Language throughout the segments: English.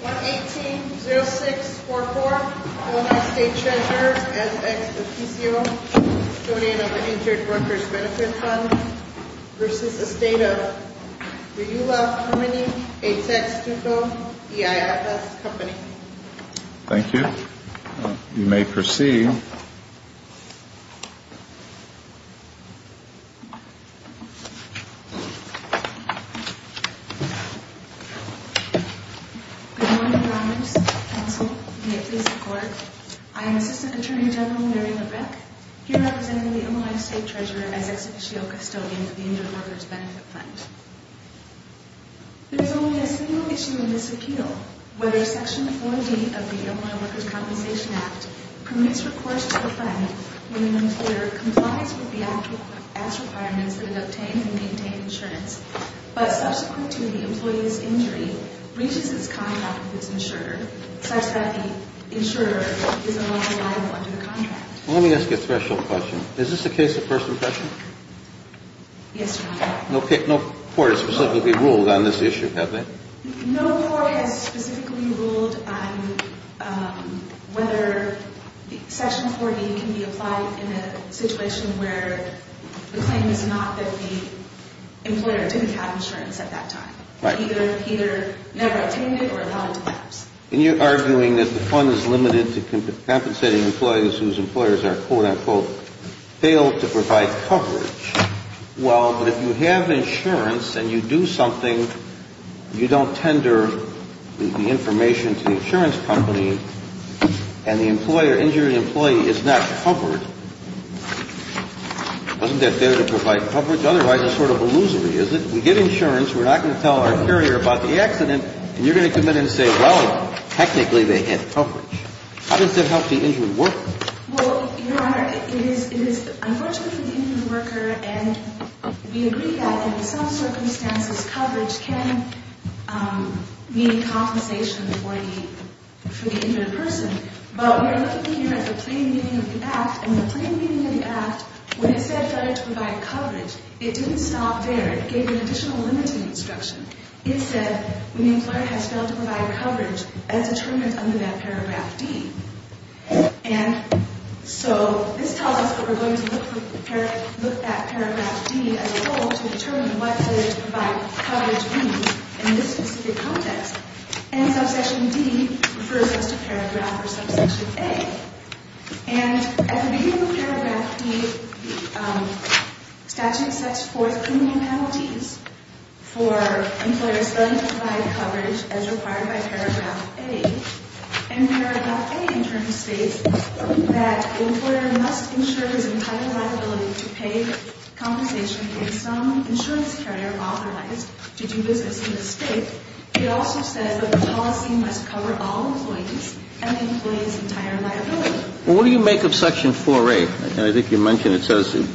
180644 Illinois State Treasurer S. X. Oficio, Donor of the Injured Workers' Benefit Fund v. The State of Riula, Harmony, Atex, Tuco, EIFS Company Assistant Attorney General Mary LaBreck, Illinois State Treasurer S. X. Oficio, Custodian of the Injured Workers' Benefit Fund There is only a single issue in this appeal, whether Section 40 of the Illinois Workers' Compensation Act permits recourse to the fund when an employer complies with the act's requirements that it obtains and maintains insurance, but subsequent to the employee's injury, breaches its contract with its insurer, such that the insurer is no longer liable under the contract. Let me ask you a threshold question. Is this a case of first impression? Yes, Your Honor. No court has specifically ruled on this issue, have they? No court has specifically ruled on whether Section 40 can be applied in a situation where the claim is not that the employer didn't have insurance at that time. Right. Either never obtained it or allowed to pass. And you're arguing that the fund is limited to compensating employees whose employers are, quote, unquote, failed to provide coverage. Well, but if you have insurance and you do something, you don't tender the information to the insurance company and the injury employee is not covered, doesn't that fail to provide coverage? Well, Your Honor, it is unfortunately for the injured worker and we agree that in some circumstances coverage can mean compensation for the injured person, but we are looking here at the plain meaning of the act, and the plain meaning of the act, when it says that it's provided coverage, it doesn't mean that it's covered. It didn't stop there. It gave an additional limiting instruction. It said when the employer has failed to provide coverage as determined under that paragraph D. And so this tells us that we're going to look at paragraph D as a whole to determine what it says to provide coverage means in this specific context. And subsection D refers us to paragraph or subsection A. And at the beginning of paragraph D, the statute sets forth three new penalties for employers failing to provide coverage as required by paragraph A. And paragraph A, in turn, states that the employer must insure his entire liability to pay compensation if some insurance carrier authorized to do business in the state. It also says that the policy must cover all employees and the employee's entire liability. Well, what do you make of section 4A? I think you mentioned it says it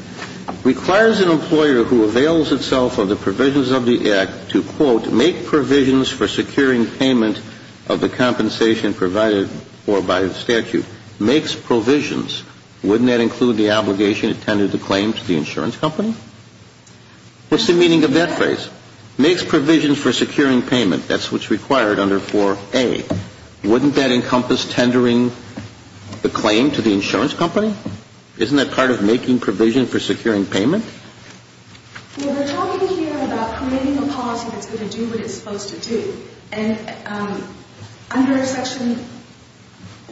requires an employer who avails itself of the provisions of the act to, quote, make provisions for securing payment of the compensation provided for by the statute. Makes provisions. Wouldn't that include the obligation intended to claim to the insurance company? What's the meaning of that phrase? Makes provisions for securing payment. That's what's required under 4A. Wouldn't that encompass tendering the claim to the insurance company? Isn't that part of making provision for securing payment? Well, they're talking here about creating a policy that's going to do what it's supposed to do. And under section,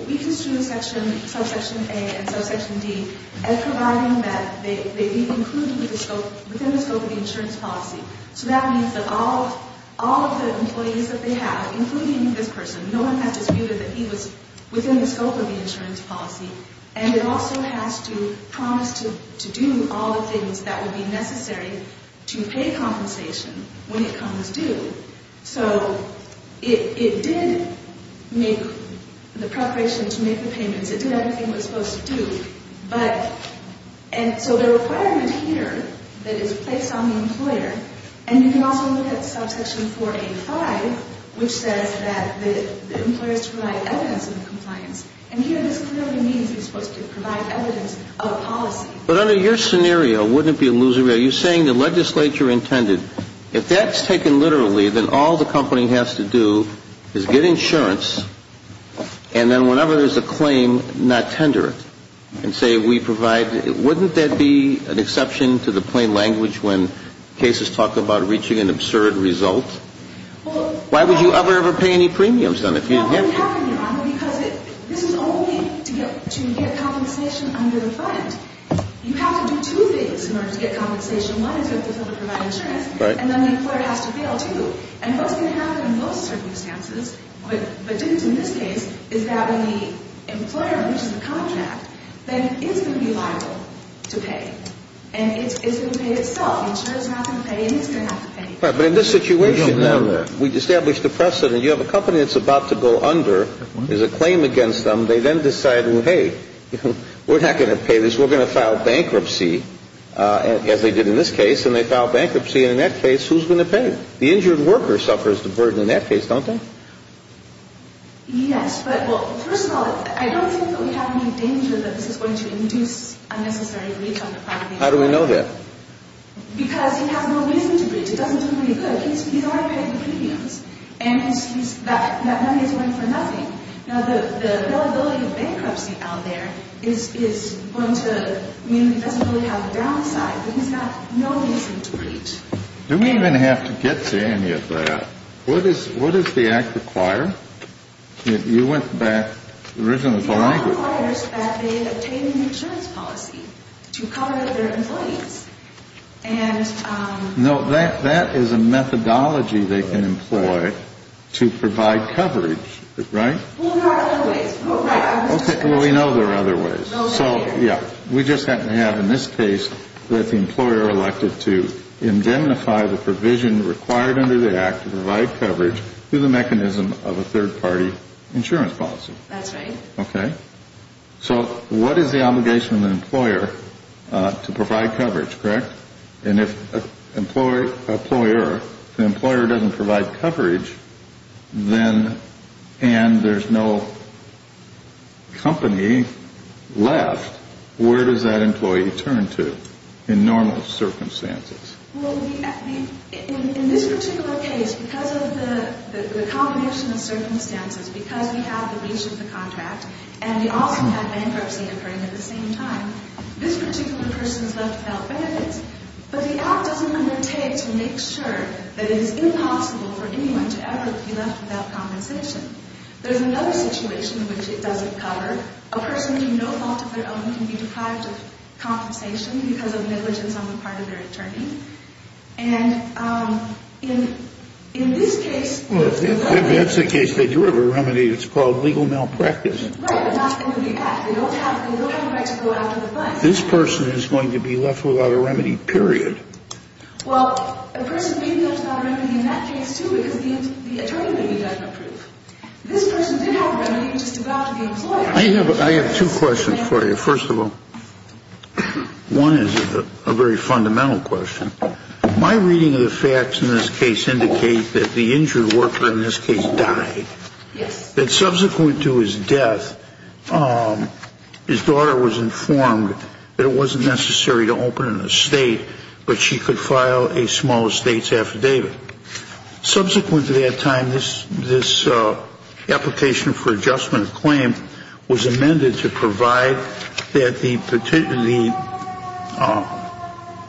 we construed section, subsection A and subsection D as providing that they be included within the scope of the insurance policy. So that means that all of the employees that they have, including this person, no one has disputed that he was within the scope of the insurance policy. And it also has to promise to do all the things that would be necessary to pay compensation when it comes due. So it did make the preparation to make the payments. It did everything it was supposed to do. But, and so the requirement here that is placed on the employer, and you can also look at subsection 485, which says that the employer is to provide evidence of compliance. And here this clearly means he's supposed to provide evidence of a policy. But under your scenario, wouldn't it be illusory? Are you saying the legislature intended? If that's taken literally, then all the company has to do is get insurance, and then whenever there's a claim, not tender it. And say we provide, wouldn't that be an exception to the plain language when cases talk about reaching an absurd result? Why would you ever, ever pay any premiums on it if you didn't have to? This is only to get compensation under the fund. You have to do two things in order to get compensation. One is you have to provide insurance. Right. And then the employer has to fail to. And what's going to happen in those circumstances, but didn't in this case, is that when the employer reaches a contract, then it's going to be liable to pay, and it's going to pay itself. The insurer's not going to pay, and it's going to have to pay. But in this situation, we've established the precedent. You have a company that's about to go under. There's a claim against them. They then decide, well, hey, we're not going to pay this. We're going to file bankruptcy, as they did in this case, and they file bankruptcy. And in that case, who's going to pay? The injured worker suffers the burden in that case, don't they? Yes, but, well, first of all, I don't think that we have any danger that this is going to induce unnecessary breach on the part of the employer. How do we know that? Because he has no reason to breach. It doesn't do him any good. He's already paid the premiums, and that money is going for nothing. Now, the availability of bankruptcy out there is going to mean that he doesn't really have the downside, but he's got no reason to breach. Do we even have to get to any of that? What does the Act require? You went back. It requires that they obtain an insurance policy to cover their employees. No, that is a methodology they can employ to provide coverage, right? Well, there are other ways. Okay, well, we know there are other ways. So, yeah, we just happen to have in this case that the employer elected to indemnify the provision required under the Act to provide coverage through the mechanism of a third-party insurance policy. That's right. Okay. So what is the obligation of the employer to provide coverage, correct? And if the employer doesn't provide coverage and there's no company left, where does that employee turn to in normal circumstances? Well, in this particular case, because of the combination of circumstances, because we have the breach of the contract and we also have bankruptcy occurring at the same time, this particular person is left without benefits, but the Act doesn't undertake to make sure that it is impossible for anyone to ever be left without compensation. There's another situation in which it doesn't cover. A person to no fault of their own can be deprived of compensation because of negligence on the part of their attorney. And in this case, Well, if that's the case, they do have a remedy. It's called legal malpractice. Right, but not under the Act. They don't have the right to go after the client. This person is going to be left without a remedy, period. Well, a person may be left without a remedy in that case, too, because the attorney maybe doesn't approve. This person did have a remedy, which is to go out to the employer. I have two questions for you. First of all, one is a very fundamental question. My reading of the facts in this case indicates that the injured worker in this case died, that subsequent to his death, his daughter was informed that it wasn't necessary to open an estate, but she could file a small estate's affidavit. Subsequent to that time, this application for adjustment claim was amended to provide that the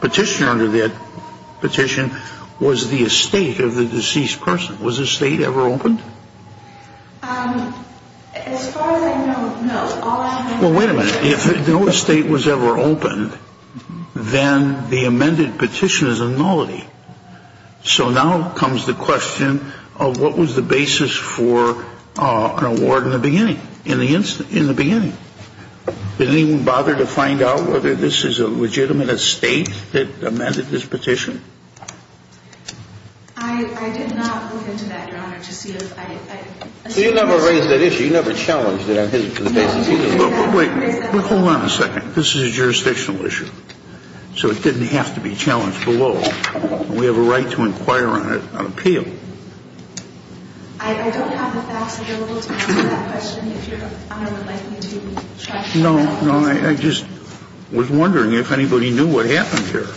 petitioner under that petition was the estate of the deceased person. Was the estate ever opened? As far as I know, no. Well, wait a minute. If no estate was ever opened, then the amended petition is a nullity. So now comes the question of what was the basis for an award in the beginning, in the beginning? Did anyone bother to find out whether this is a legitimate estate that amended this petition? I did not look into that, Your Honor, to see if I assessed that. So you never raised that issue. You never challenged it on his behalf. Wait. Hold on a second. This is a jurisdictional issue, so it didn't have to be challenged below. We have a right to inquire on it on appeal. I don't have the facts available to answer that question, if Your Honor would like me to check. No, no. I just was wondering if anybody knew what happened here.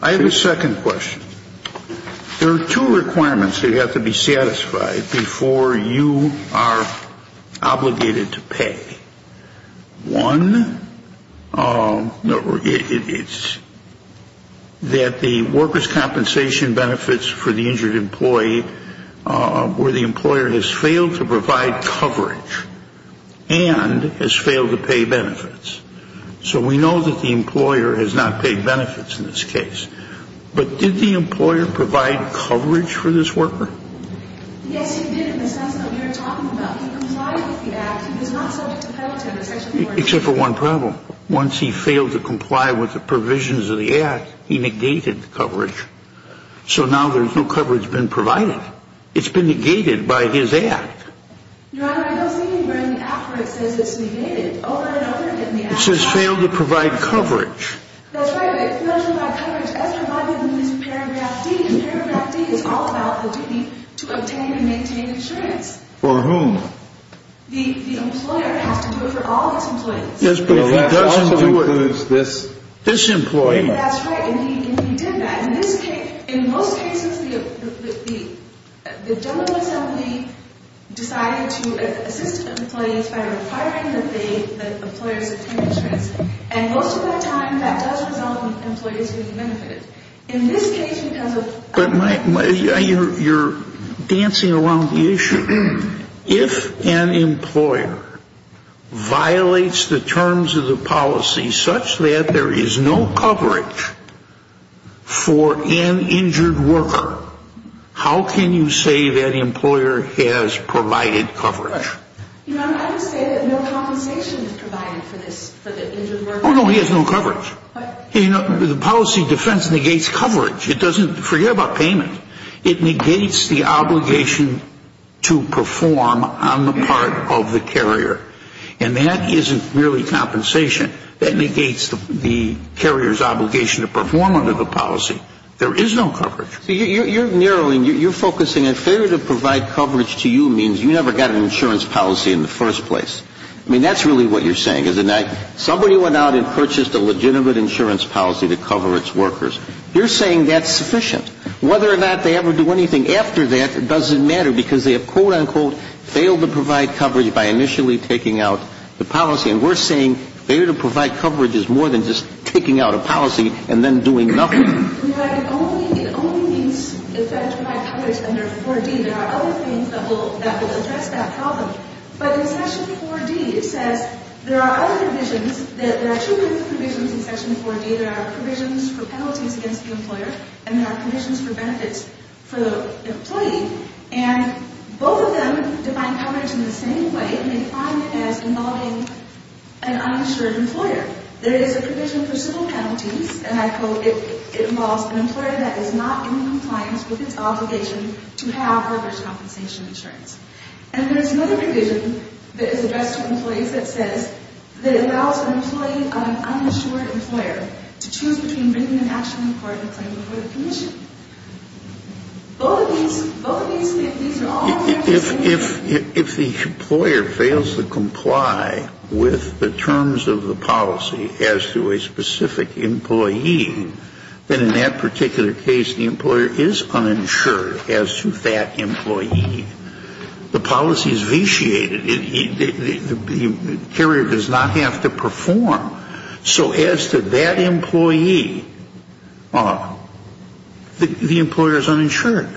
I have a second question. There are two requirements that have to be satisfied before you are obligated to pay. One, it's that the workers' compensation benefits for the injured employee where the employer has failed to provide coverage and has failed to pay benefits. So we know that the employer has not paid benefits in this case. But did the employer provide coverage for this worker? Yes, he did in the sense that we were talking about. Except for one problem. Once he failed to comply with the provisions of the act, he negated the coverage. So now there's no coverage that's been provided. It's been negated by his act. Your Honor, I was thinking where in the act where it says it's negated. It says failed to provide coverage. That's right. It fails to provide coverage as provided in this paragraph D. And paragraph D is all about the duty to obtain and maintain insurance. For whom? The employer has to do it for all his employees. Yes, but if he doesn't do it for this employee. That's right. And he did that. In most cases, the General Assembly decided to assist employees by requiring that they, that employers, obtain insurance. And most of the time, that does result in employees being benefited. But you're dancing around the issue. If an employer violates the terms of the policy such that there is no coverage for an injured worker, how can you say that employer has provided coverage? Your Honor, I would say that no compensation is provided for the injured worker. Oh, no, he has no coverage. You know, the policy defense negates coverage. It doesn't forget about payment. It negates the obligation to perform on the part of the carrier. And that isn't really compensation. That negates the carrier's obligation to perform under the policy. There is no coverage. You're narrowing. You're focusing. A failure to provide coverage to you means you never got an insurance policy in the first place. I mean, that's really what you're saying, isn't that? Somebody went out and purchased a legitimate insurance policy to cover its workers. You're saying that's sufficient. Whether or not they ever do anything after that, it doesn't matter because they have, quote, unquote, failed to provide coverage by initially taking out the policy. And we're saying failure to provide coverage is more than just taking out a policy and then doing nothing. Your Honor, it only, it only means if that's my coverage under 4D. There are other things that will, that will address that problem. But in Section 4D, it says there are other provisions. There are two kinds of provisions in Section 4D. There are provisions for penalties against the employer and there are provisions for benefits for the employee. And both of them define coverage in the same way. They define it as involving an uninsured employer. There is a provision for civil penalties, and I quote, it involves an employer that is not in compliance with its obligation to have workers' compensation insurance. And there's another provision that is addressed to employees that says, that allows an employee, an uninsured employer, to choose between bringing an action in court and a claim before the commission. Both of these, both of these, these are all in the same area. If, if, if the employer fails to comply with the terms of the policy as to a specific employee, then in that particular case, the employer is uninsured as to that employee. The policy is vitiated. The carrier does not have to perform. So as to that employee, the employer is uninsured.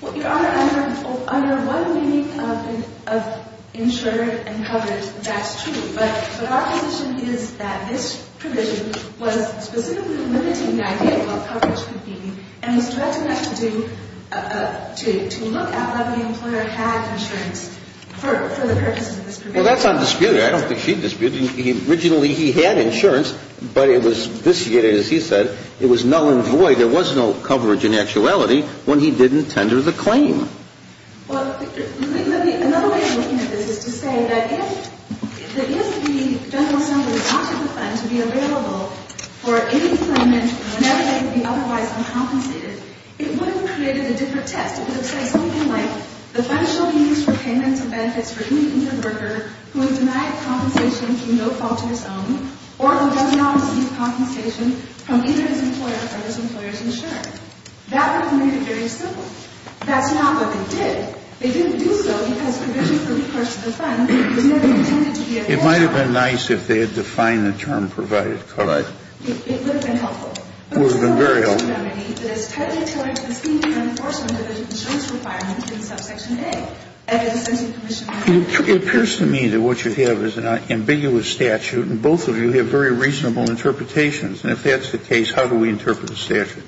Well, Your Honor, under one meaning of insured and coverage, that's true. But our position is that this provision was specifically limiting the idea of what coverage could be and was directed not to do, to look at whether the employer had insurance for the purposes of this provision. Well, that's on dispute. I don't think she disputed. Originally, he had insurance, but it was vitiated, as he said. It was null and void. There was no coverage in actuality when he didn't tender the claim. Well, let me, another way of looking at this is to say that if, that if the general assembly wanted the fund to be available for any claimant whenever they could be otherwise uncompensated, it would have created a different text. It would have said something like, the fund shall be used for payments and benefits for any employer who has denied compensation or who does not receive compensation from either his employer or his employer's insurer. That would have made it very simple. That's not what they did. They didn't do so because provision for recourse to the fund was never intended to be available. It might have been nice if they had defined the term provided, correct? It would have been helpful. It would have been very helpful. It is tightly tailored to the scheme of enforcement of the insurance requirement in subsection A. It appears to me that what you have is an ambiguous statute and both of you have very reasonable interpretations. And if that's the case, how do we interpret the statute?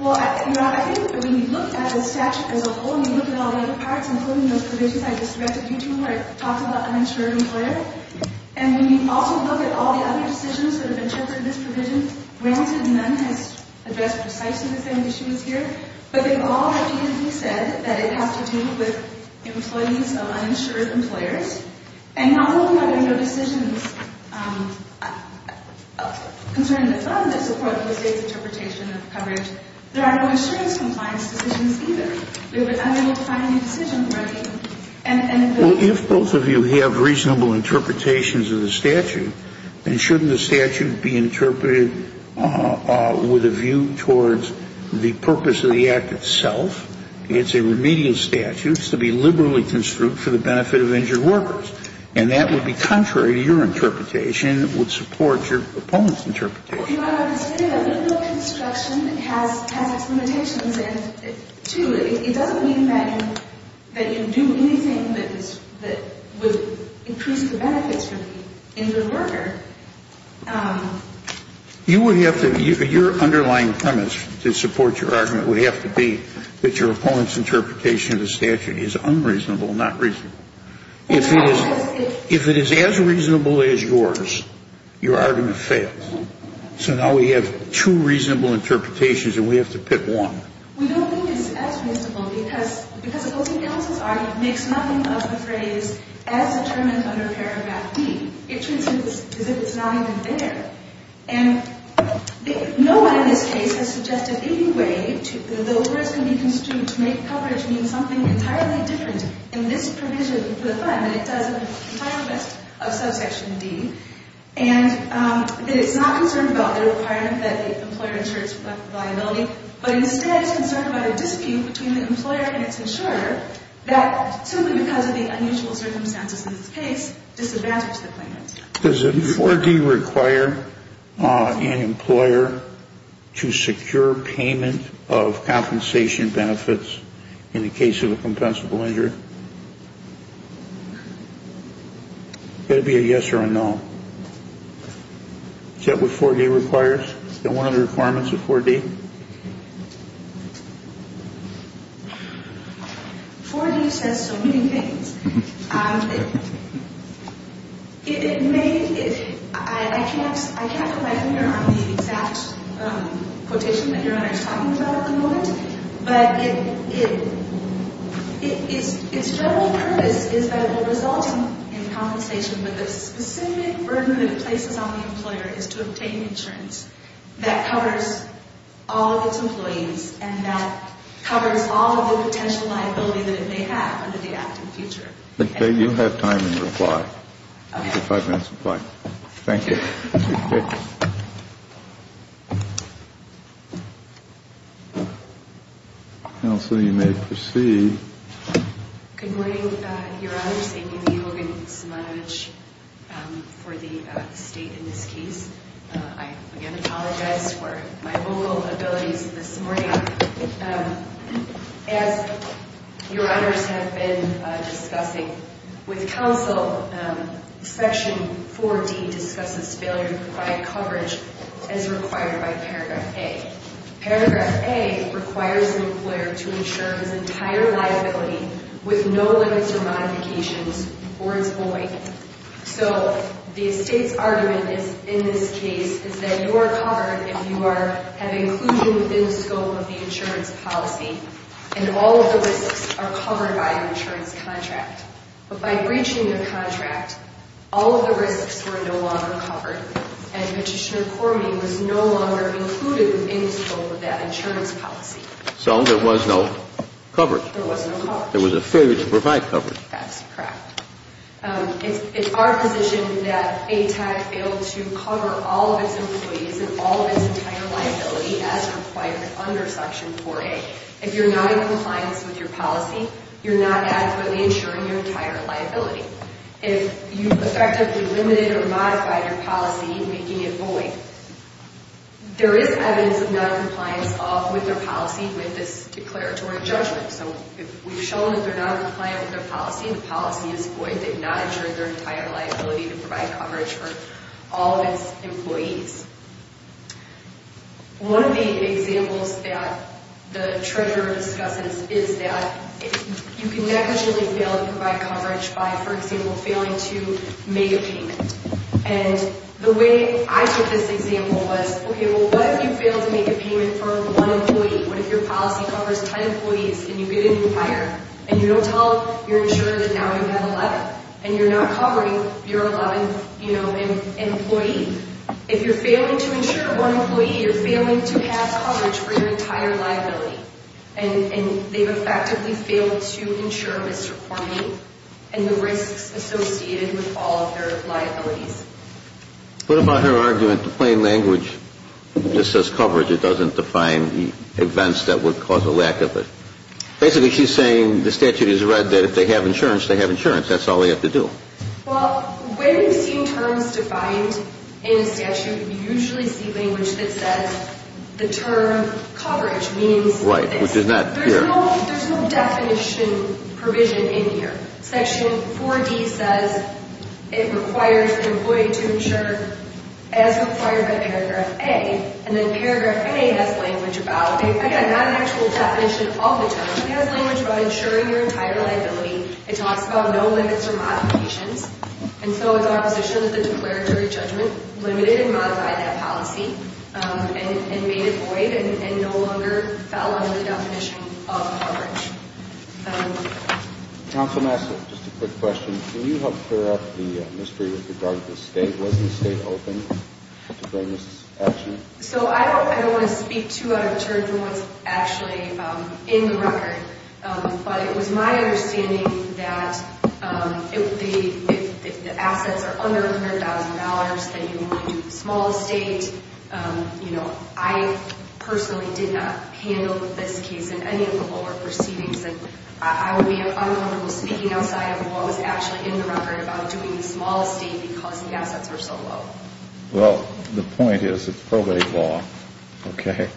Well, you know, I think that when you look at the statute as a whole and you look at all the other parts, including those provisions I just directed you to where I talked about uninsured employer, and when you also look at all the other decisions that have interpreted this provision, granted none has addressed precisely the same issues here, but they all repeatedly said that it has to do with employees of uninsured employers. And not only are there no decisions concerning the fund that support the state's interpretation of coverage, there are no insurance compliance decisions either. We were unable to find a new decision, correct? Well, if both of you have reasonable interpretations of the statute, then shouldn't the statute be interpreted with a view towards the purpose of the act itself? It's a remedial statute. It's to be liberally construed for the benefit of injured workers. And that would be contrary to your interpretation. It would support your opponent's interpretation. Your Honor, I would say that a liberal construction has its limitations, and two, it doesn't mean that you do anything that would increase the benefits for me. You would have to – your underlying premise to support your argument would have to be that your opponent's interpretation of the statute is unreasonable, not reasonable. If it is as reasonable as yours, your argument fails. So now we have two reasonable interpretations, and we have to pick one. We don't think it's as reasonable, because opposing counsel's argument makes nothing of the phrase, as determined under Paragraph D. It treats it as if it's not even there. And no one in this case has suggested any way that the overrides can be construed to make coverage mean something entirely different in this provision of the Fund than it does in the entire rest of Subsection D, and that it's not concerned about the requirement that the employer insures liability, but instead is concerned about a dispute between the employer and its insurer that, simply because of the unusual circumstances in this case, disadvantages the claimant. Does a 4D require an employer to secure payment of compensation benefits in the case of a compensable injury? That would be a yes or a no. Is that what 4D requires? Is that one of the requirements of 4D? 4D says so many things. I can't put my finger on the exact quotation that Your Honor is talking about at the moment, but its general purpose is that it will result in compensation, but the specific burden that it places on the employer is to obtain insurance that covers all of its employees and that covers all of the potential liability that it may have under the act in the future. Okay, you have time in reply. You have five minutes in reply. Thank you. Counsel, you may proceed. Good morning, Your Honors. Amy Hogan Samanovich for the State in this case. I, again, apologize for my vocal abilities this morning. As Your Honors have been discussing with counsel, Section 4D discusses failure to provide coverage as required by Paragraph A. Paragraph A requires the employer to insure his entire liability with no limits or modifications or its void. So the State's argument in this case is that you are covered if you have inclusion within the scope of the insurance policy and all of the risks are covered by an insurance contract. But by breaching the contract, all of the risks were no longer covered and Magistrate Cormier was no longer included in the scope of that insurance policy. So there was no coverage. There was no coverage. There was a failure to provide coverage. That's correct. It's our position that ATAC failed to cover all of its employees and all of its entire liability as required under Section 4A. If you're not in compliance with your policy, you're not adequately insuring your entire liability. If you effectively limited or modified your policy, making it void, there is evidence of noncompliance with their policy with this declaratory judgment. So we've shown that they're not compliant with their policy. The policy is void. They've not insured their entire liability to provide coverage for all of its employees. One of the examples that the Treasurer discusses is that you can negligibly fail to provide coverage by, for example, failing to make a payment. And the way I took this example was, okay, well, what if you fail to make a payment for one employee? What if your policy covers 10 employees and you get a new hire and you don't tell your insurer that now you have 11 and you're not covering your 11th employee? If you're failing to insure one employee, you're failing to have coverage for your entire liability. And they've effectively failed to insure Mr. Cornyn and the risks associated with all of their liabilities. What about her argument that plain language that says coverage, it doesn't define the events that would cause a lack of it? Basically, she's saying the statute is read that if they have insurance, they have insurance. That's all they have to do. Well, when we've seen terms defined in a statute, you usually see language that says the term coverage means this. Right, which is not here. There's no definition provision in here. Section 4D says it requires an employee to insure as required by Paragraph A. And then Paragraph A has language about it. Again, not an actual definition of the term, but it has language about insuring your entire liability. It talks about no limits or modifications. And so it's our position that the declaratory judgment limited and modified that policy and made it void and no longer fell under the definition of coverage. Counsel, may I ask just a quick question? Can you help clear up the mystery with regard to the state? Was the state open to bring this action? So I don't want to speak too out of turn for what's actually in the record, but it was my understanding that if the assets are under $100,000, then you want to do small estate. You know, I personally did not handle this case in any of the lower proceedings, and I would be unlawful speaking outside of what was actually in the record about doing the small estate because the assets were so low. Well, the point is it's probate law, okay?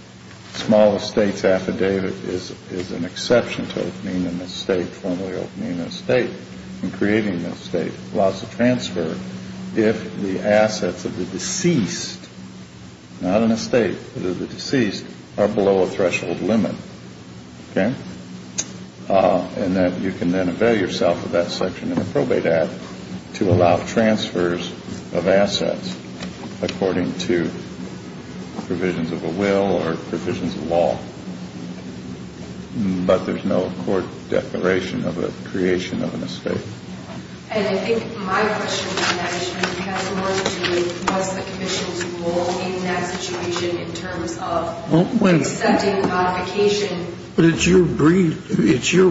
Small estate's affidavit is an exception to opening an estate, formally opening an estate, and creating an estate allows the transfer if the assets of the deceased, not an estate, but of the deceased are below a threshold limit, okay? And that you can then avail yourself of that section in the probate act to allow transfers of assets according to provisions of a will or provisions of law. But there's no court declaration of a creation of an estate. And I think my question on that issue has more to do with what's the commission's role in that situation in terms of accepting the modification. Your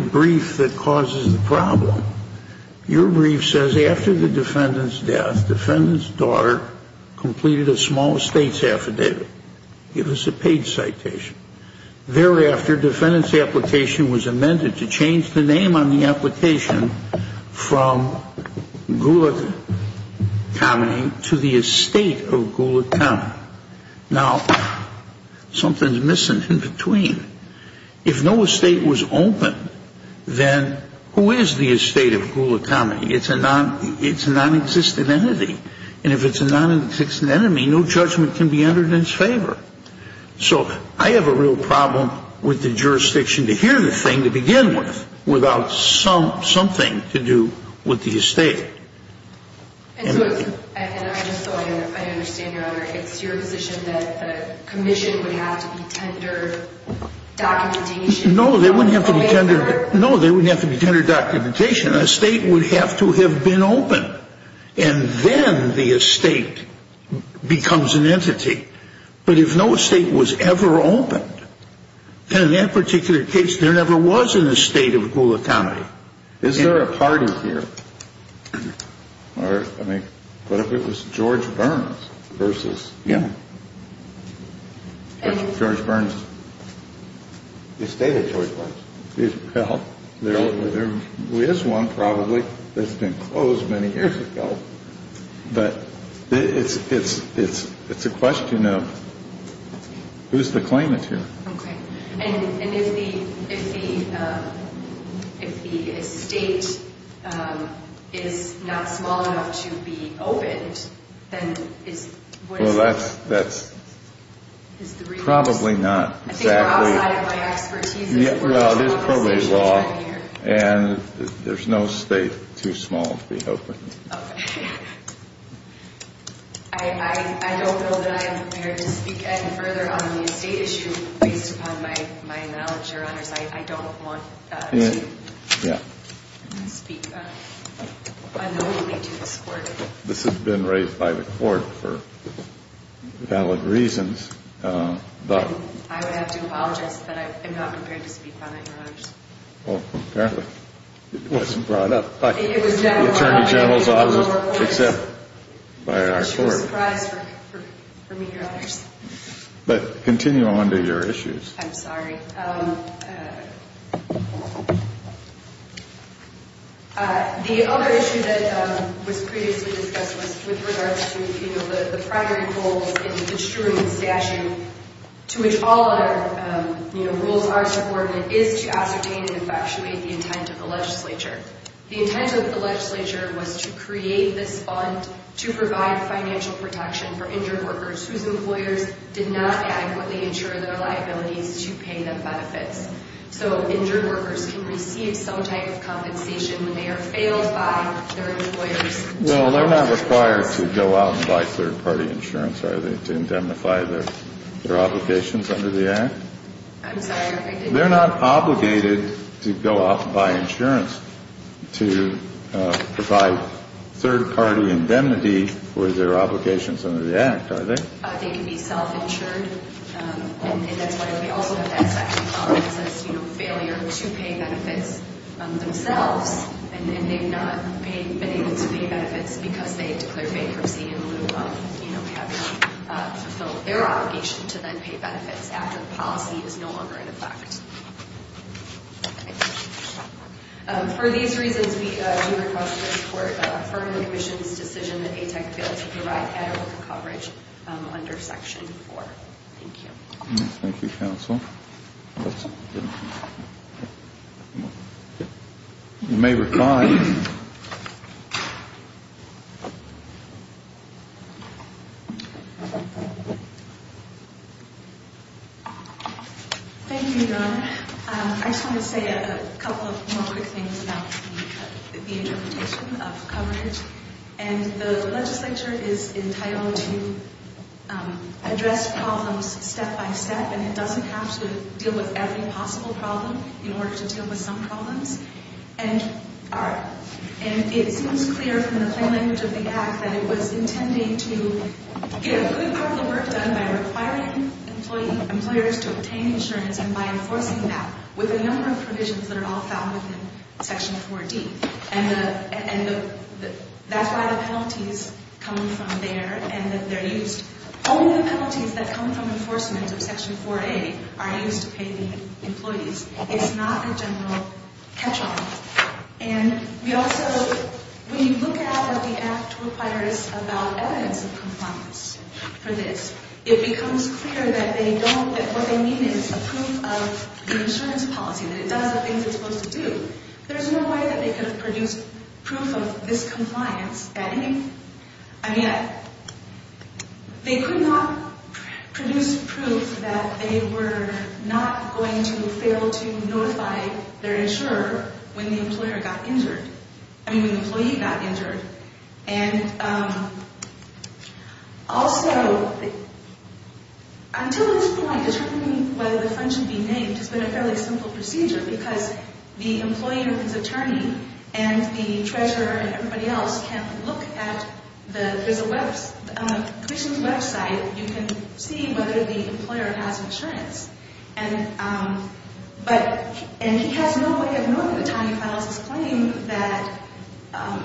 brief says, after the defendant's death, defendant's daughter completed a small estate's affidavit. Give us a page citation. Thereafter, defendant's application was amended to change the name on the application from Gula Kamini to the estate of Gula Kamini. Now, something's missing in between. If no estate was opened, then who is the estate of Gula Kamini? It's a nonexistent entity. And if it's a nonexistent entity, no judgment can be entered in its favor. So I have a real problem with the jurisdiction to hear the thing to begin with without something to do with the estate. And so I understand, Your Honor, it's your position that the commission would have to be tendered documentation? No, they wouldn't have to be tendered documentation. An estate would have to have been opened. And then the estate becomes an entity. But if no estate was ever opened, then in that particular case, there never was an estate of Gula Kamini. Is there a party here? I mean, what if it was George Burns versus? Yeah. George Burns? The estate of George Burns. Well, there is one probably that's been closed many years ago. But it's a question of who's the claimant here. Okay. And if the estate is not small enough to be opened, then what is the reason? Well, that's probably not exactly. I think we're outside of my expertise. Well, it is probably law. And there's no state too small to be opened. Okay. I don't know that I am prepared to speak any further on the estate issue based upon my knowledge, Your Honors. I don't want to speak unknowingly to this court. This has been raised by the court for valid reasons. I would have to apologize that I'm not prepared to speak on it, Your Honors. Well, apparently it wasn't brought up by the Attorney General's office. Except by our court. I'm too surprised for me, Your Honors. But continue on to your issues. I'm sorry. The other issue that was previously discussed was with regards to, you know, the primary goals in the instrument statute, to which all other, you know, rules are subordinate, is to ascertain and infatuate the intent of the legislature. The intent of the legislature was to create this fund to provide financial protection for injured workers whose employers did not adequately insure their liabilities to pay them benefits. So injured workers can receive some type of compensation when they are failed by their employers. Well, they're not required to go out and buy third-party insurance, are they, to indemnify their obligations under the Act? I'm sorry. They're not obligated to go out and buy insurance to provide third-party indemnity for their obligations under the Act, are they? They can be self-insured. And that's why we also have that second column that says, you know, failure to pay benefits themselves, and they've not been able to pay benefits because they declared bankruptcy in lieu of, you know, because they have not fulfilled their obligation to then pay benefits after the policy is no longer in effect. For these reasons, we do request the Court affirm the Commission's decision that ATEC be able to provide adequate coverage under Section 4. Thank you. Thank you, counsel. You may recline. Thank you, Your Honor. I just want to say a couple of more quick things about the interpretation of coverage. And the legislature is entitled to address problems step by step, and it doesn't have to deal with every possible problem in order to deal with some problems. And it seems clear from the plain language of the Act that it was intending to get a good part of the work done by requiring employers to obtain insurance and by enforcing that with a number of provisions that are all found within Section 4D. And that's why the penalties come from there and that they're used. Only the penalties that come from enforcement of Section 4A are used to pay the employees. It's not a general catch-all. And we also, when you look at what the Act requires about evidence of compliance for this, it becomes clear that they don't, that what they mean is a proof of the insurance policy, that it does the things it's supposed to do. There's no way that they could have produced proof of this compliance at any. I mean, they could not produce proof that they were not going to fail to notify their insurer when the employer got injured, I mean, when the employee got injured. And also, until this point, determining whether the fund should be named has been a fairly simple procedure because the employer, his attorney, and the treasurer and everybody else can look at the commission's website. You can see whether the employer has insurance. And he has no way of knowing at the time he files his claim that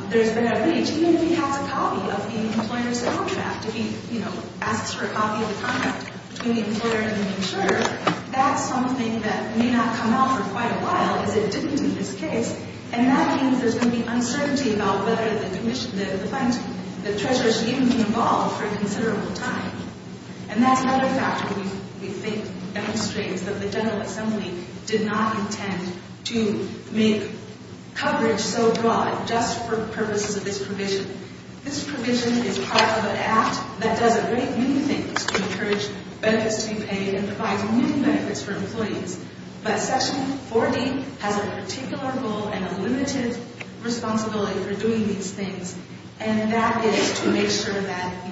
there's been a breach, even if he has a copy of the employer's contract. If he, you know, asks for a copy of the contract between the employer and the insurer, that's something that may not come out for quite a while is it didn't do this case, and that means there's going to be uncertainty about whether the fund, the treasurer, should even be involved for a considerable time. And that's another factor we think demonstrates that the General Assembly did not intend to make coverage so broad just for purposes of this provision. This provision is part of an act that does a great many things to encourage benefits to be paid and provide new benefits for employees. But Section 40 has a particular goal and a limited responsibility for doing these things, and that is to make sure that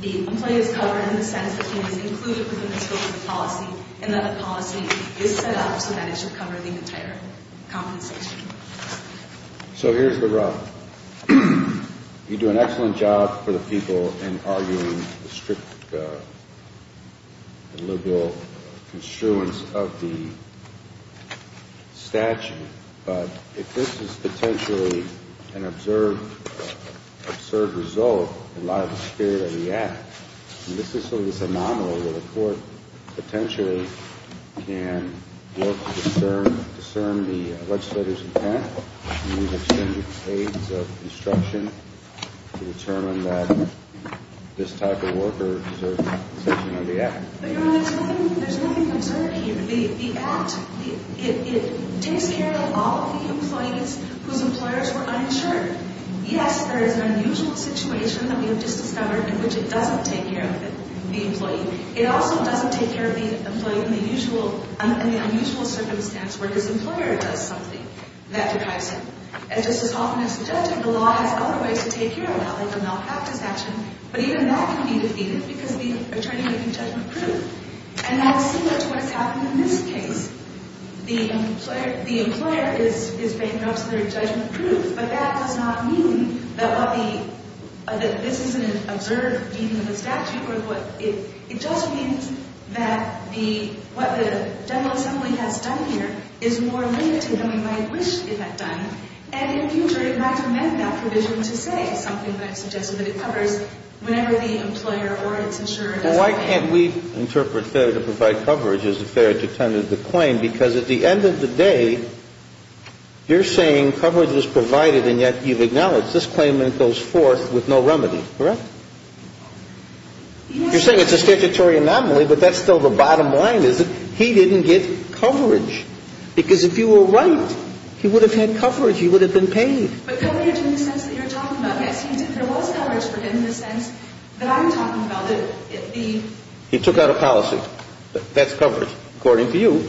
the employee is covered in the sense that he is included within the scope of the policy and that the policy is set up so that it should cover the entire compensation. So here's the rub. You do an excellent job for the people in arguing the strict deliberal construence of the statute, but if this is potentially an absurd result in light of the spirit of the act, and this is sort of this anomaly where the court potentially can look to discern the legislator's intent and use extended stages of instruction to determine that this type of worker deserves an exemption under the act. But, Your Honor, there's nothing absurd here. The act, it takes care of all of the employees whose employers were uninsured. Yes, there is an unusual situation that we have just discovered in which it doesn't take care of the employee. It also doesn't take care of the employee in the unusual circumstance where his employer does something that deprives him. And just as often as the judge, the law has other ways to take care of that, like a malpractice action, but even that can be defeated because the attorney may be judgment-proof. And that's similar to what's happened in this case. The employer is bankrupt, so they're judgment-proof, but that does not mean that this is an absurd meaning of the statute. It just means that what the general assembly has done here is more limited than we might wish it had done. And in the future, it might amend that provision to say something that suggests that it covers whenever the employer or its insurer does something. And why can't we interpret fair to provide coverage as a fair detentive to claim? Because at the end of the day, you're saying coverage was provided and yet you've acknowledged this claimant goes forth with no remedy, correct? You're saying it's a statutory anomaly, but that's still the bottom line, is that he didn't get coverage. Because if you were right, he would have had coverage. He would have been paid. But coverage in the sense that you're talking about. He took out a policy. That's coverage, according to you.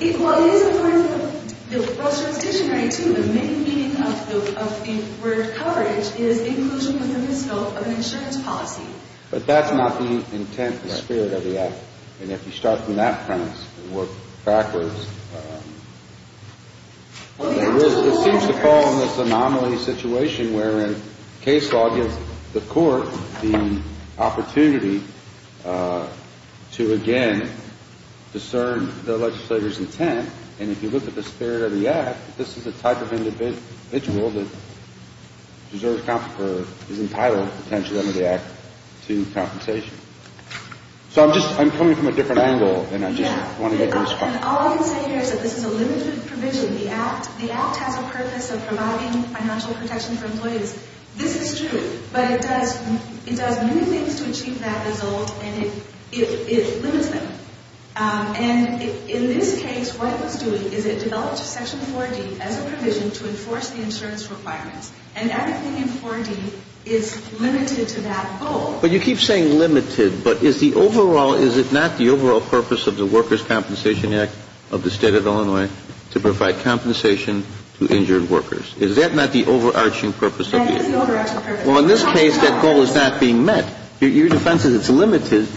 But that's not the intent, the spirit of the act. And if you start from that premise and work backwards, it seems to fall in this anomaly situation wherein case law gives the court the opportunity to, again, discern the legislator's intent. And if you look at the spirit of the act, this is the type of individual that is entitled potentially under the act to compensation. So I'm coming from a different angle, and I just want to make a response. And all I can say here is that this is a limited provision. The act has a purpose of providing financial protection for employees. This is true, but it does many things to achieve that result, and it limits them. And in this case, what it was doing is it developed Section 4D as a provision to enforce the insurance requirements. And everything in 4D is limited to that goal. But you keep saying limited, but is the overall, is it not the overall purpose of the Workers' Compensation Act of the State of Illinois to provide compensation to injured workers? Is that not the overarching purpose of the act? That is the overarching purpose. Well, in this case, that goal is not being met. Your defense is it's limited.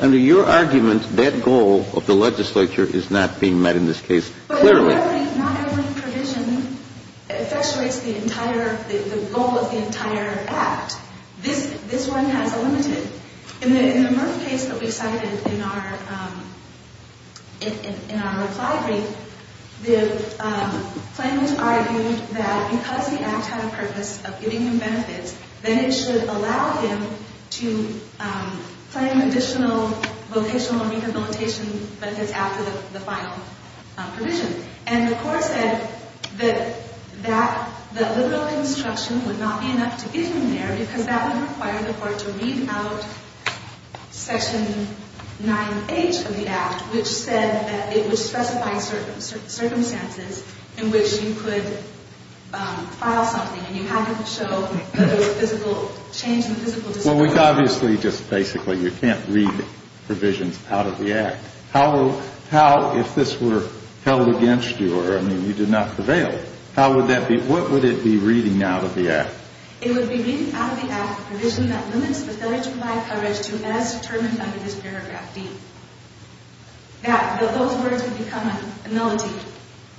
Under your argument, that goal of the legislature is not being met in this case, clearly. Not every provision effectuates the entire, the goal of the entire act. This one has a limited. In the Murph case that we cited in our reply brief, the claimant argued that because the act had a purpose of giving him benefits, then it should allow him to claim additional vocational rehabilitation benefits after the final provision. And the court said that that, that liberal construction would not be enough to get him there because that would require the court to read out Section 9H of the act, which said that it would specify certain circumstances in which you could file something. And you had to show whether there was physical change in physical disability. Well, we obviously, just basically, you can't read provisions out of the act. How, if this were held against you, or, I mean, you did not prevail, how would that be, what would it be reading out of the act? It would be reading out of the act a provision that limits the failure to provide coverage to, as determined under this paragraph D, that those words would become a melody,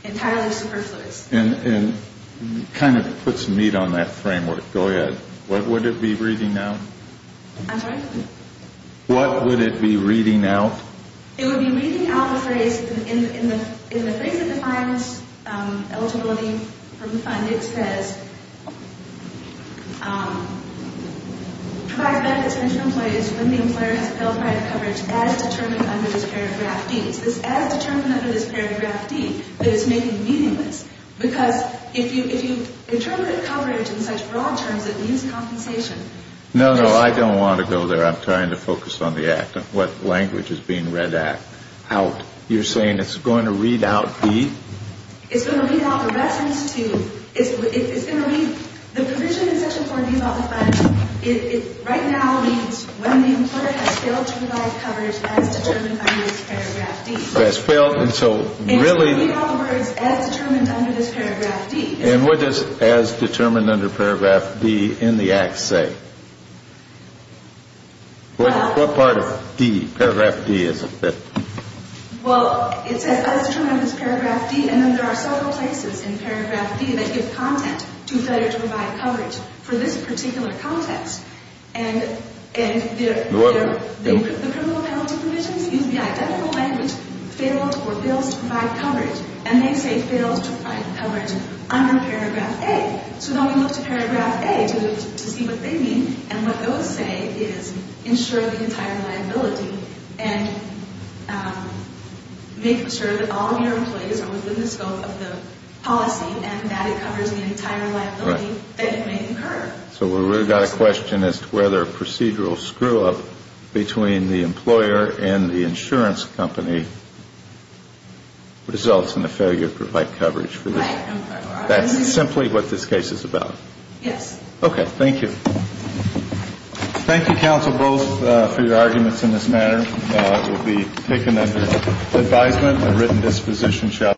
entirely superfluous. And it kind of puts meat on that framework. Go ahead. What would it be reading out? I'm sorry? What would it be reading out? It would be reading out the phrase, in the phrase that defines eligibility from the fund, it says, provides benefits to employees when the employer has failed prior to coverage, as determined under this paragraph D. No, no, I don't want to go there. I'm trying to focus on the act, what language is being read out. You're saying it's going to read out the? It's going to read out the reference to, it's going to read, the provision in section 4B about the fund, it right now means when the employer has failed to provide coverage as determined under this paragraph D. And it's going to read all the words, as determined under this paragraph D. And what does, as determined under paragraph D, in the act say? What part of D, paragraph D is it that? Well, it says, as determined under this paragraph D, and then there are several places in paragraph D that give content to failure to provide coverage for this particular context. And the criminal penalty provisions use the identical language, failed or fails to provide coverage, and they say fails to provide coverage under paragraph A. So then we look to paragraph A to see what they mean, and what those say is, ensure the entire liability and make sure that all of your employees are within the scope of the policy and that it covers the entire liability that you may incur. So we've really got a question as to whether a procedural screw-up between the employer and the insurance company results in a failure to provide coverage for this. Right. That's simply what this case is about. Yes. Okay. Thank you. Thank you, counsel, both, for your arguments in this matter. It will be taken under advisement and written disposition.